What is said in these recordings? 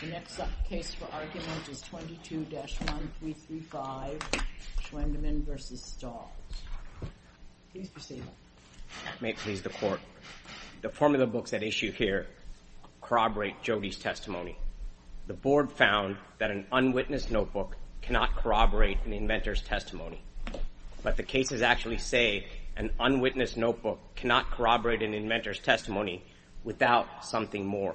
The next case for argument is 22-1335, Schwendimann v. Stahls. Please proceed. May it please the Court. The formula books at issue here corroborate Jody's testimony. The Board found that an unwitnessed notebook cannot corroborate an inventor's testimony. But the cases actually say an unwitnessed notebook cannot corroborate an inventor's testimony without something more.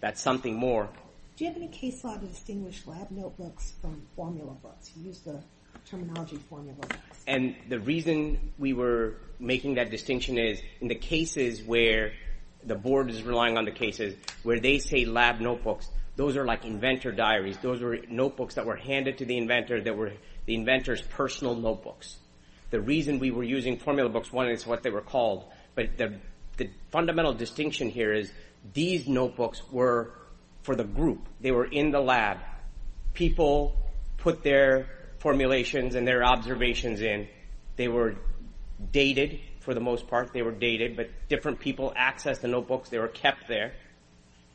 That's something more. Do you have any case law to distinguish lab notebooks from formula books? You used the terminology formula books. And the reason we were making that distinction is in the cases where the Board is relying on the cases, where they say lab notebooks, those are like inventor diaries. Those are notebooks that were handed to the inventor that were the inventor's personal notebooks. The reason we were using formula books, one, is what they were called. But the fundamental distinction here is these notebooks were for the group. They were in the lab. People put their formulations and their observations in. They were dated for the most part. They were dated, but different people accessed the notebooks. They were kept there.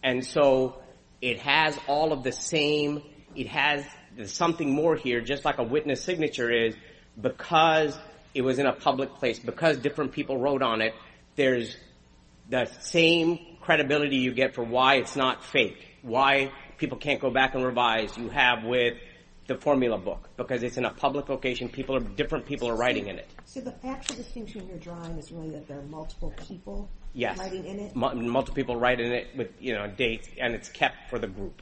And so it has all of the same. It has something more here, just like a witness signature is, because it was in a public place, because different people wrote on it, there's the same credibility you get for why it's not fake, why people can't go back and revise. You have with the formula book, because it's in a public location. Different people are writing in it. So the actual distinction you're drawing is really that there are multiple people writing in it? Yes, multiple people write in it with dates, and it's kept for the group.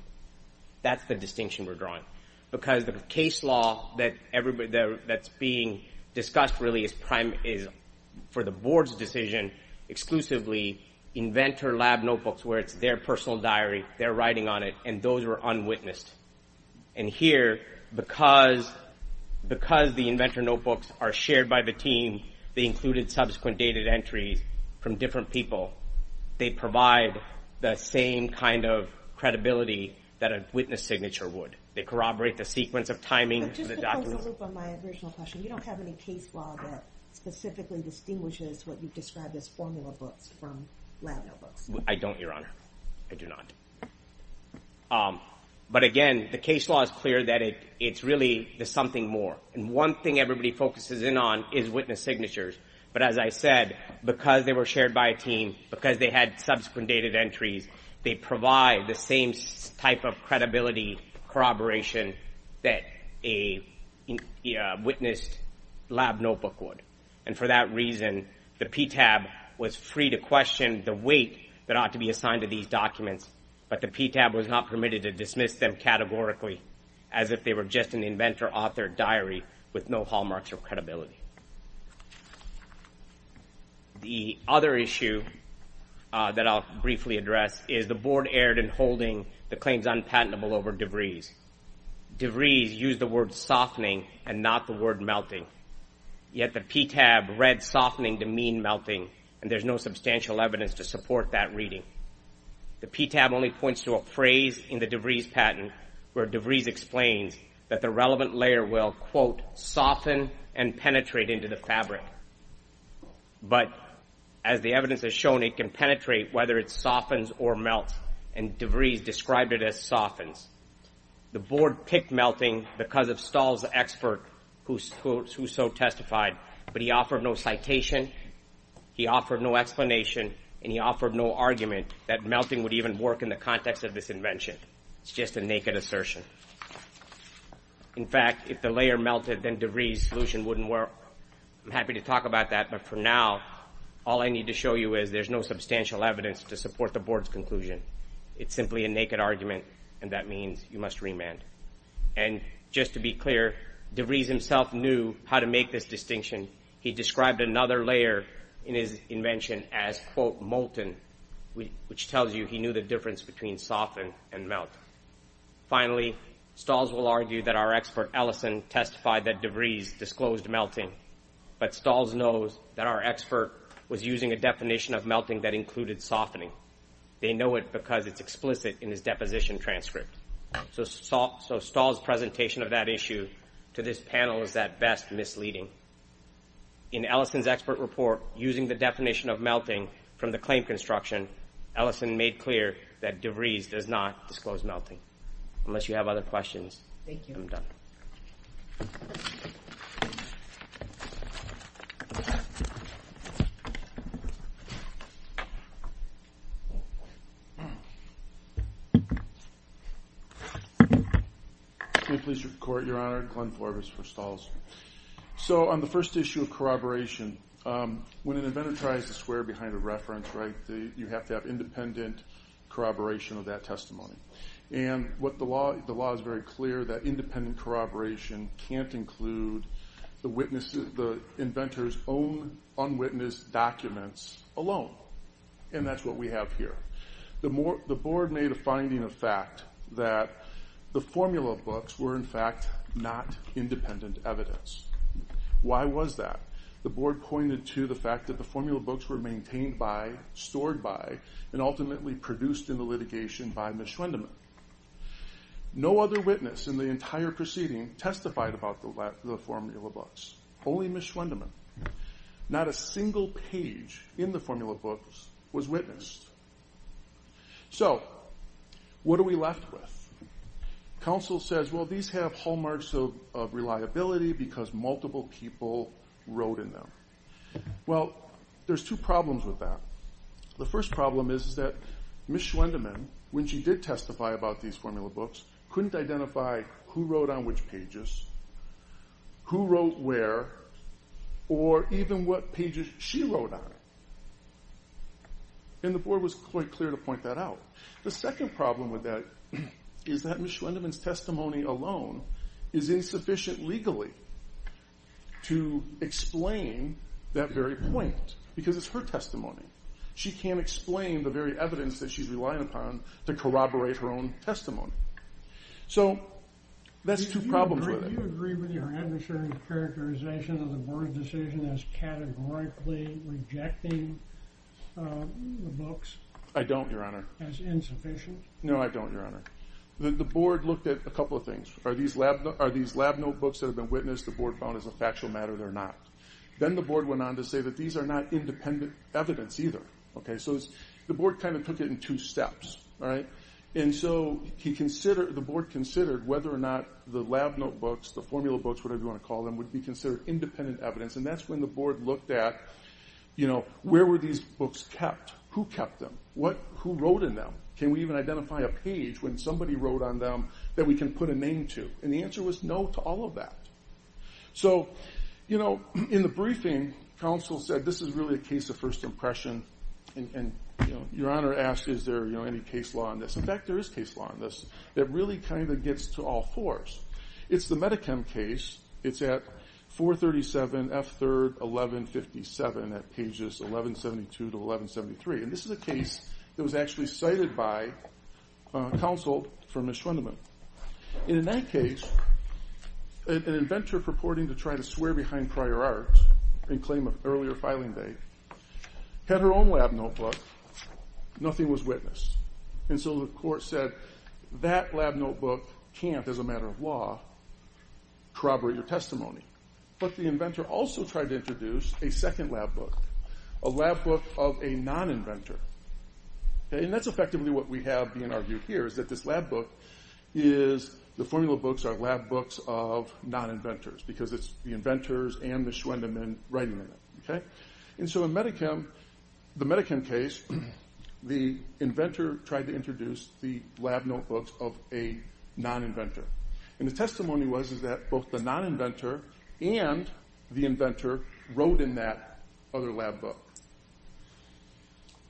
That's the distinction we're drawing. Because the case law that's being discussed really is for the board's decision exclusively inventor lab notebooks, where it's their personal diary, they're writing on it, and those were unwitnessed. And here, because the inventor notebooks are shared by the team, they included subsequent dated entries from different people. They provide the same kind of credibility that a witness signature would. They corroborate the sequence of timing. Just to close the loop on my original question, you don't have any case law that specifically distinguishes what you've described as formula books from lab notebooks? I don't, Your Honor. I do not. But again, the case law is clear that it's really the something more. And one thing everybody focuses in on is witness signatures. But as I said, because they were shared by a team, because they had subsequent dated entries, they provide the same type of credibility corroboration that a witnessed lab notebook would. And for that reason, the PTAB was free to question the weight that ought to be assigned to these documents, but the PTAB was not permitted to dismiss them categorically as if they were just an inventor author diary with no hallmarks or credibility. The other issue that I'll briefly address is the Board erred in holding the claims unpatentable over DeVries. DeVries used the word softening and not the word melting. Yet the PTAB read softening to mean melting, and there's no substantial evidence to support that reading. The PTAB only points to a phrase in the DeVries patent where DeVries explains that the relevant layer will, quote, soften and penetrate into the fabric. But as the evidence has shown, it can penetrate whether it softens or melts, and DeVries described it as softens. The Board picked melting because of Stahl's expert who so testified, but he offered no citation, he offered no explanation, and he offered no argument that melting would even work in the context of this invention. It's just a naked assertion. In fact, if the layer melted, then DeVries' solution wouldn't work. I'm happy to talk about that, but for now, all I need to show you is there's no substantial evidence to support the Board's conclusion. It's simply a naked argument, and that means you must remand. And just to be clear, DeVries himself knew how to make this distinction. He described another layer in his invention as, quote, molten, which tells you he knew the difference between soften and melt. Finally, Stahls will argue that our expert, Ellison, testified that DeVries disclosed melting, but Stahls knows that our expert was using a definition of melting that included softening. They know it because it's explicit in his deposition transcript. So Stahls' presentation of that issue to this panel is at best misleading. In Ellison's expert report, using the definition of melting from the claim construction, Ellison made clear that DeVries does not disclose melting. Unless you have other questions, I'm done. Thank you. Can I please report, Your Honor? Glenn Forbes for Stahls. So on the first issue of corroboration, when an inventor tries to swear behind a reference, right, you have to have independent corroboration of that testimony. And the law is very clear that independent corroboration can't include the inventor's own unwitnessed documents alone. And that's what we have here. The board made a finding of fact that the formula books were, in fact, not independent evidence. Why was that? The board pointed to the fact that the formula books were maintained by, stored by, and ultimately produced in the litigation by Ms. Schwendeman. No other witness in the entire proceeding testified about the formula books. Only Ms. Schwendeman. Not a single page in the formula books was witnessed. So what are we left with? Counsel says, well, these have hallmarks of reliability because multiple people wrote in them. Well, there's two problems with that. The first problem is that Ms. Schwendeman, when she did testify about these formula books, couldn't identify who wrote on which pages, who wrote where, or even what pages she wrote on. And the board was quite clear to point that out. The second problem with that is that Ms. Schwendeman's testimony alone is insufficient legally to explain that very point because it's her testimony. She can't explain the very evidence that she's relying upon to corroborate her own testimony. Do you agree with your adversary's characterization of the board's decision as categorically rejecting the books? I don't, Your Honor. As insufficient? No, I don't, Your Honor. The board looked at a couple of things. Are these lab notebooks that have been witnessed the board found as a factual matter or not? Then the board went on to say that these are not independent evidence either. So the board kind of took it in two steps. And so the board considered whether or not the lab notebooks, the formula books, whatever you want to call them, would be considered independent evidence. And that's when the board looked at where were these books kept? Who kept them? Who wrote in them? Can we even identify a page when somebody wrote on them that we can put a name to? And the answer was no to all of that. So in the briefing, counsel said this is really a case of first impression. And Your Honor asked is there any case law on this. In fact, there is case law on this that really kind of gets to all fours. It's the Medi-Chem case. It's at 437 F. 3rd 1157 at pages 1172 to 1173. And this is a case that was actually cited by counsel for Ms. Schwendeman. And in that case, an inventor purporting to try to swear behind prior art in claim of earlier filing date had her own lab notebook. Nothing was witnessed. And so the court said that lab notebook can't, as a matter of law, corroborate your testimony. But the inventor also tried to introduce a second lab book, a lab book of a non-inventor. And that's effectively what we have being argued here is that this lab book is the formula books are lab books of non-inventors because it's the inventors and Ms. Schwendeman writing in it. And so in the Medi-Chem case, the inventor tried to introduce the lab notebooks of a non-inventor. And the testimony was that both the non-inventor and the inventor wrote in that other lab book.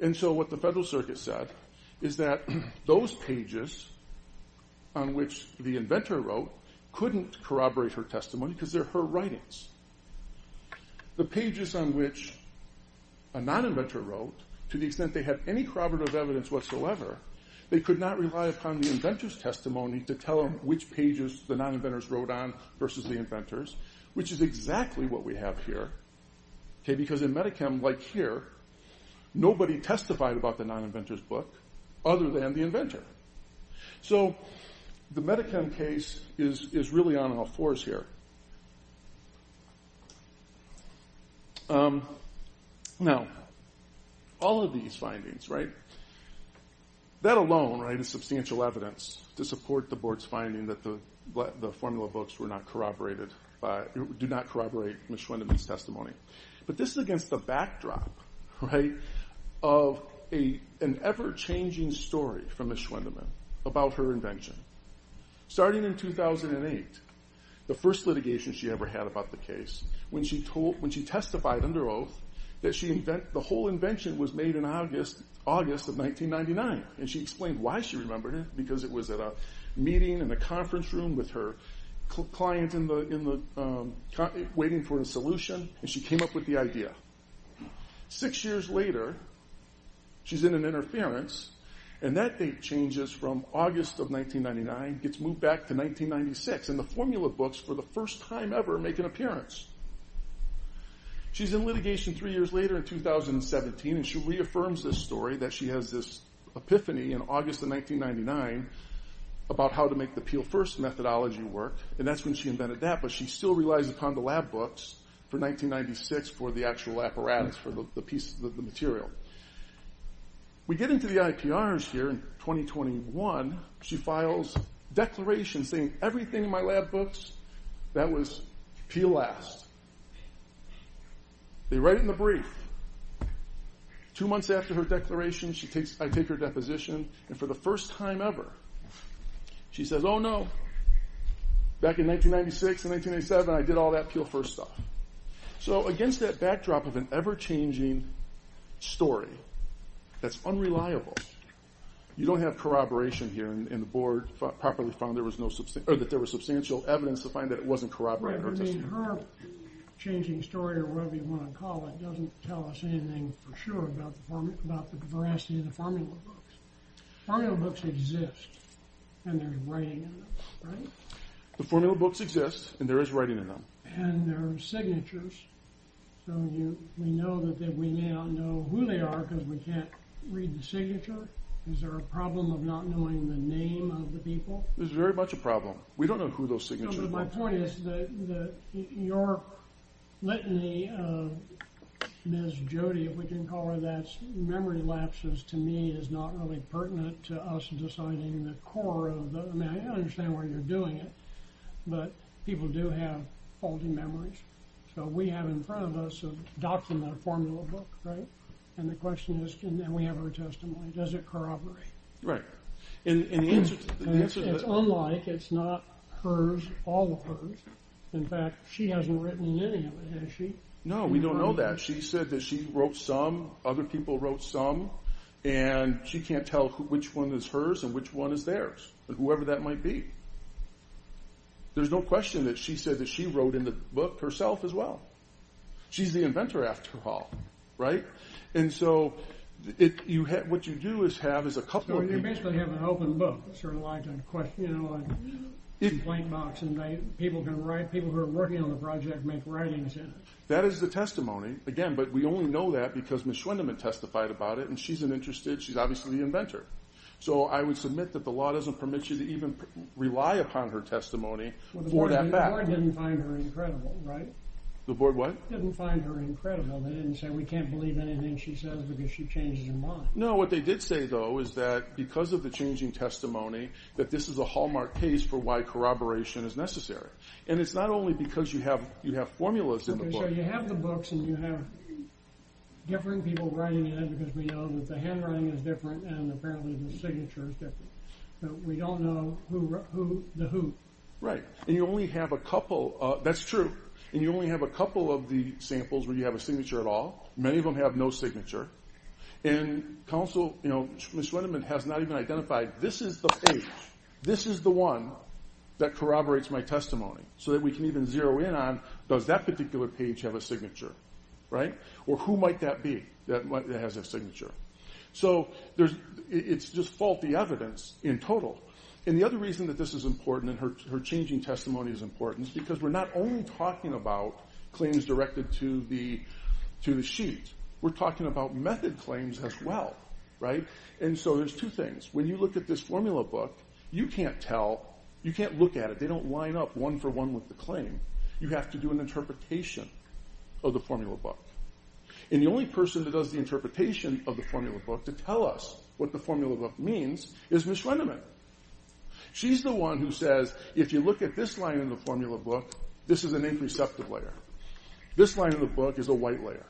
And so what the Federal Circuit said is that those pages on which the inventor wrote couldn't corroborate her testimony because they're her writings. The pages on which a non-inventor wrote, to the extent they had any corroborative evidence whatsoever, they could not rely upon the inventor's testimony to tell them which pages the non-inventors wrote on versus the inventors, which is exactly what we have here. Because in Medi-Chem, like here, nobody testified about the non-inventor's book other than the inventor. So the Medi-Chem case is really on all fours here. Now, all of these findings, that alone is substantial evidence to support the Board's finding that the formula books do not corroborate Ms. Schwendeman's testimony. But this is against the backdrop of an ever-changing story from Ms. Schwendeman about her invention. Starting in 2008, the first litigation she ever had about the case, when she testified under oath that the whole invention was made in August of 1999. And she explained why she remembered it, because it was at a meeting in a conference room with her client waiting for a solution, and she came up with the idea. Six years later, she's in an interference, and that date changes from August of 1999, gets moved back to 1996, and the formula books, for the first time ever, make an appearance. She's in litigation three years later in 2017, and she reaffirms this story, that she has this epiphany in August of 1999 about how to make the Peel First methodology work, and that's when she invented that, but she still relies upon the lab books for 1996 for the actual apparatus for the pieces of the material. We get into the IPRs here in 2021, she files declarations saying, everything in my lab books, that was Peel Last. They write it in the brief. Two months after her declaration, I take her deposition, and for the first time ever, she says, oh no, back in 1996 and 1987, I did all that Peel First stuff. So against that backdrop of an ever-changing story, that's unreliable. You don't have corroboration here, and the board properly found that there was substantial evidence to find that it wasn't corroborated. Her changing story, or whatever you want to call it, doesn't tell us anything for sure about the veracity of the formula books. Formula books exist, and there's writing in them, right? The formula books exist, and there is writing in them. And there are signatures, so we know that we may not know who they are because we can't read the signature. Is there a problem of not knowing the name of the people? There's very much a problem. We don't know who those signatures are. My point is, your litany of Ms. Jody, if we can call her that, memory lapses to me is not really pertinent to us deciding the core of the, I mean, I understand why you're doing it, but people do have faulty memories. So we have in front of us a document, a formula book, right? And the question is, and we have her testimony, does it corroborate? Right. It's unlike, it's not hers, all of hers. In fact, she hasn't written in any of it, has she? No, we don't know that. She said that she wrote some, other people wrote some, and she can't tell which one is hers and which one is theirs, whoever that might be. There's no question that she said that she wrote in the book herself as well. She's the inventor after all, right? And so what you do is have a couple of people. So you basically have an open book, sort of like a complaint box, and people who are working on the project make writings in it. That is the testimony. Again, but we only know that because Ms. Schwendeman testified about it, and she's an interested, she's obviously the inventor. So I would submit that the law doesn't permit you to even rely upon her testimony for that fact. Well, the board didn't find her incredible, right? The board what? Didn't find her incredible. They didn't say we can't believe anything she says because she changes her mind. No, what they did say, though, is that because of the changing testimony, that this is a hallmark case for why corroboration is necessary. And it's not only because you have formulas in the book. So you have the books and you have different people writing in them because we know that the handwriting is different and apparently the signature is different. So we don't know the who. Right. And you only have a couple, that's true, and you only have a couple of the samples where you have a signature at all. Many of them have no signature. And counsel, Ms. Schwendeman has not even identified, this is the page, this is the one that corroborates my testimony so that we can even zero in on, does that particular page have a signature, right? Or who might that be that has a signature? So it's just faulty evidence in total. And the other reason that this is important and her changing testimony is important is because we're not only talking about claims directed to the sheet. We're talking about method claims as well, right? And so there's two things. When you look at this formula book, you can't tell, you can't look at it. They don't line up one for one with the claim. You have to do an interpretation of the formula book. And the only person that does the interpretation of the formula book to tell us what the formula book means is Ms. Schwendeman. She's the one who says, if you look at this line in the formula book, this is an interceptive layer. This line in the book is a white layer.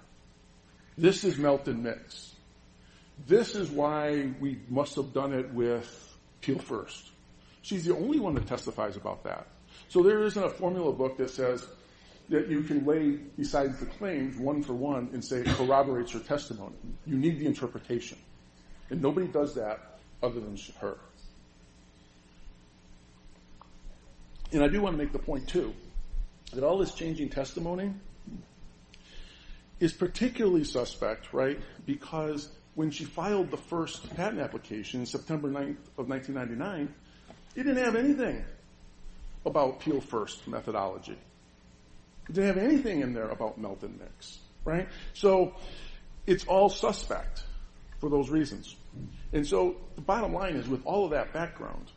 This is melt and mix. This is why we must have done it with Teal first. She's the only one that testifies about that. So there isn't a formula book that says that you can lay, besides the claim, one for one and say it corroborates her testimony. You need the interpretation. And nobody does that other than her. And I do want to make the point, too, that all this changing testimony is particularly suspect, right, because when she filed the first patent application, September 9th of 1999, it didn't have anything about Teal first methodology. It didn't have anything in there about melt and mix. So it's all suspect for those reasons. And so the bottom line is, with all of that background,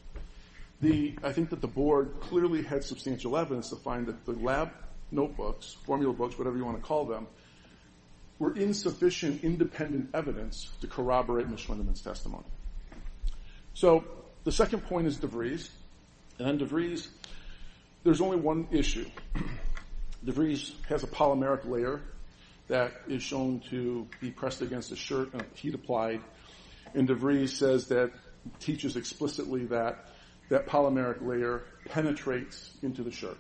I think that the board clearly had substantial evidence to find that the lab notebooks, formula books, whatever you want to call them, were insufficient independent evidence to corroborate Ms. Lindeman's testimony. So the second point is DeVries. And DeVries, there's only one issue. DeVries has a polymeric layer that is shown to be pressed against a shirt and heat applied, and DeVries says that, teaches explicitly that, that polymeric layer penetrates into the shirt.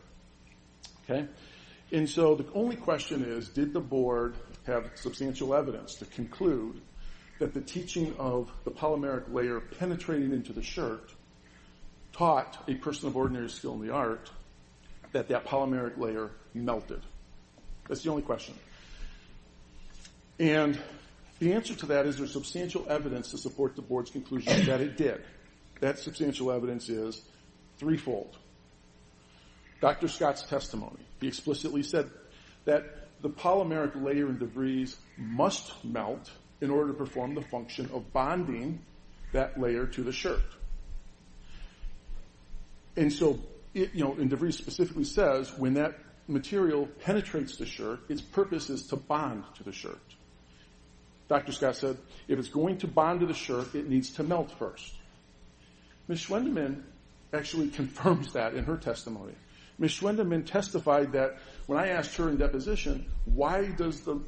And so the only question is, did the board have substantial evidence to conclude that the teaching of the polymeric layer penetrating into the shirt taught a person of ordinary skill in the art that that polymeric layer melted? That's the only question. And the answer to that is there's substantial evidence to support the board's conclusion that it did. That substantial evidence is threefold. Dr. Scott's testimony, he explicitly said that the polymeric layer in DeVries must melt in order to perform the function of bonding that layer to the shirt. And so DeVries specifically says when that material penetrates the shirt, its purpose is to bond to the shirt. Dr. Scott said if it's going to bond to the shirt, it needs to melt first. Ms. Schwendeman actually confirms that in her testimony. Ms. Schwendeman testified that when I asked her in deposition, why does the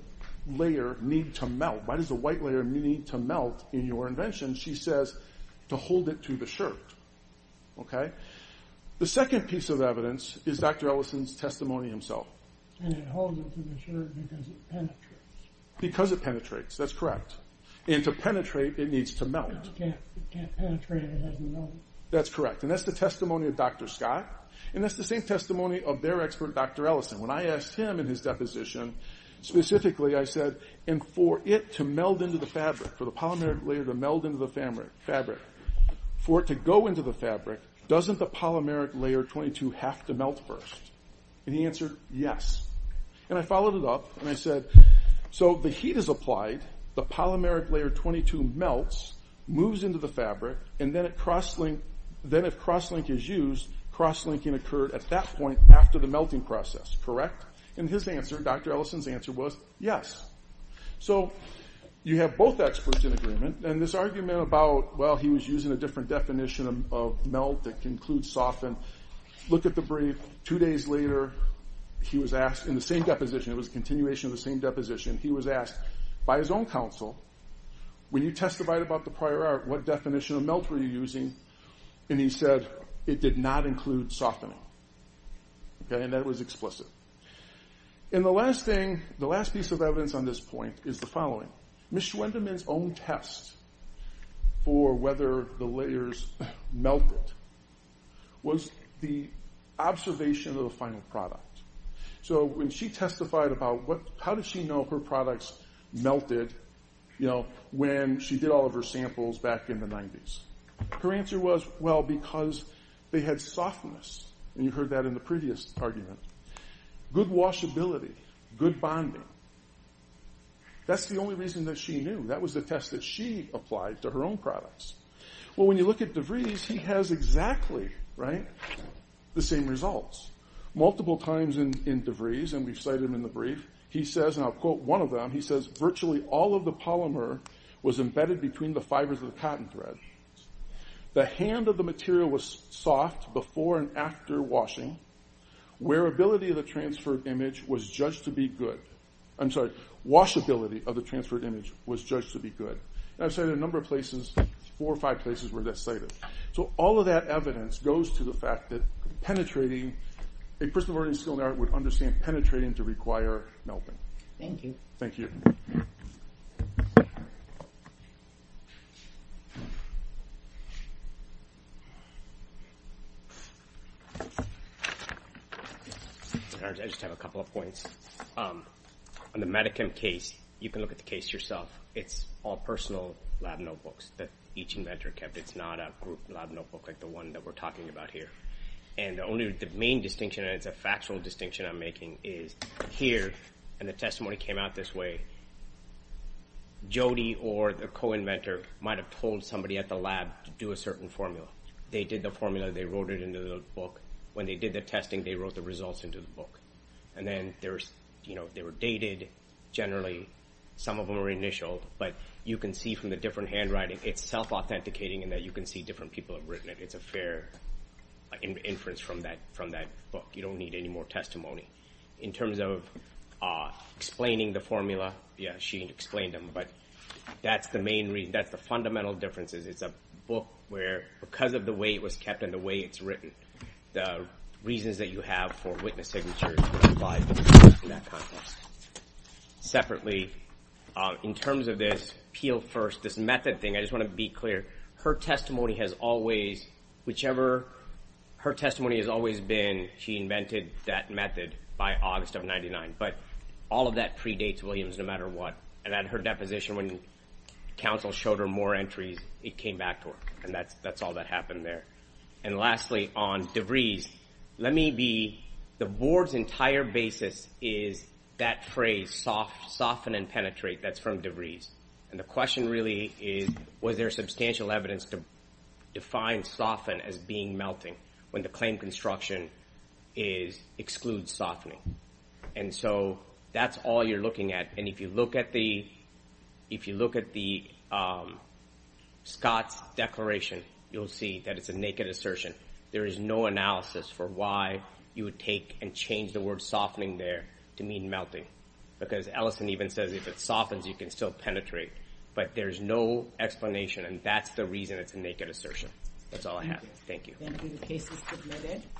layer need to melt? Why does the white layer need to melt in your invention? She says to hold it to the shirt. The second piece of evidence is Dr. Ellison's testimony himself. And it holds it to the shirt because it penetrates. Because it penetrates, that's correct. And to penetrate, it needs to melt. That's correct. And that's the testimony of Dr. Scott. And that's the same testimony of their expert, Dr. Ellison. When I asked him in his deposition specifically, I said, and for it to meld into the fabric, for the polymeric layer to meld into the fabric, for it to go into the fabric, doesn't the polymeric layer 22 have to melt first? And he answered, yes. And I followed it up and I said, so the heat is applied, the polymeric layer 22 melts, moves into the fabric, and then if cross-link is used, cross-linking occurred at that point after the melting process, correct? And his answer, Dr. Ellison's answer was yes. So you have both experts in agreement. And this argument about, well, he was using a different definition of melt that includes soften, look at the brief, two days later he was asked in the same deposition, it was a continuation of the same deposition, he was asked by his own counsel, when you testified about the prior art, what definition of melt were you using? And he said it did not include softening. And that was explicit. And the last thing, the last piece of evidence on this point is the following. Ms. Schwendemann's own test for whether the layers melted was the observation of the final product. So when she testified about how did she know her products melted when she did all of her samples back in the 90s? Her answer was, well, because they had softness. And you heard that in the previous argument. Good washability, good bonding. That's the only reason that she knew. That was the test that she applied to her own products. Well, when you look at DeVries, he has exactly the same results. Multiple times in DeVries, and we've cited him in the brief, he says, and I'll quote one of them, he says, virtually all of the polymer was embedded between the fibers of the patent thread. The hand of the material was soft before and after washing. Wearability of the transferred image was judged to be good. I'm sorry, washability of the transferred image was judged to be good. And I've cited a number of places, four or five places where that's cited. So all of that evidence goes to the fact that penetrating, a person already skilled in art would understand penetrating to require melting. Thank you. Thank you. I just have a couple of points. On the Medicam case, you can look at the case yourself. It's all personal lab notebooks that each inventor kept. It's not a group lab notebook like the one that we're talking about here. And the main distinction, and it's a factual distinction I'm making, is here, and the testimony came out this way, Jody or the co-inventor might have told somebody at the lab to do a certain formula. They did the formula. They wrote it into the book. When they did the testing, they wrote the results into the book. And then they were dated. Generally, some of them are initial, but you can see from the different handwriting, it's self-authenticating in that you can see different people have written it. It's a fair inference from that book. You don't need any more testimony. In terms of explaining the formula, yeah, she explained them. But that's the main reason. That's the fundamental difference is it's a book where, because of the way it was kept and the way it's written, the reasons that you have for witness signatures are implied in that context. Separately, in terms of this Peel First, this method thing, I just want to be clear. Her testimony has always, whichever her testimony has always been, she invented that method by August of 99. But all of that predates Williams, no matter what. And at her deposition, when counsel showed her more entries, it came back to her. And that's all that happened there. And lastly, on DeVries, the Board's entire basis is that phrase, soften and penetrate, that's from DeVries. And the question really is, was there substantial evidence to define soften as being melting when the claim construction excludes softening? And so that's all you're looking at. And if you look at Scott's declaration, you'll see that it's a naked assertion. There is no analysis for why you would take and change the word softening there to mean melting. Because Ellison even says if it softens, you can still penetrate. But there's no explanation, and that's the reason it's a naked assertion. That's all I have. Thank you. Thank you. The case is submitted.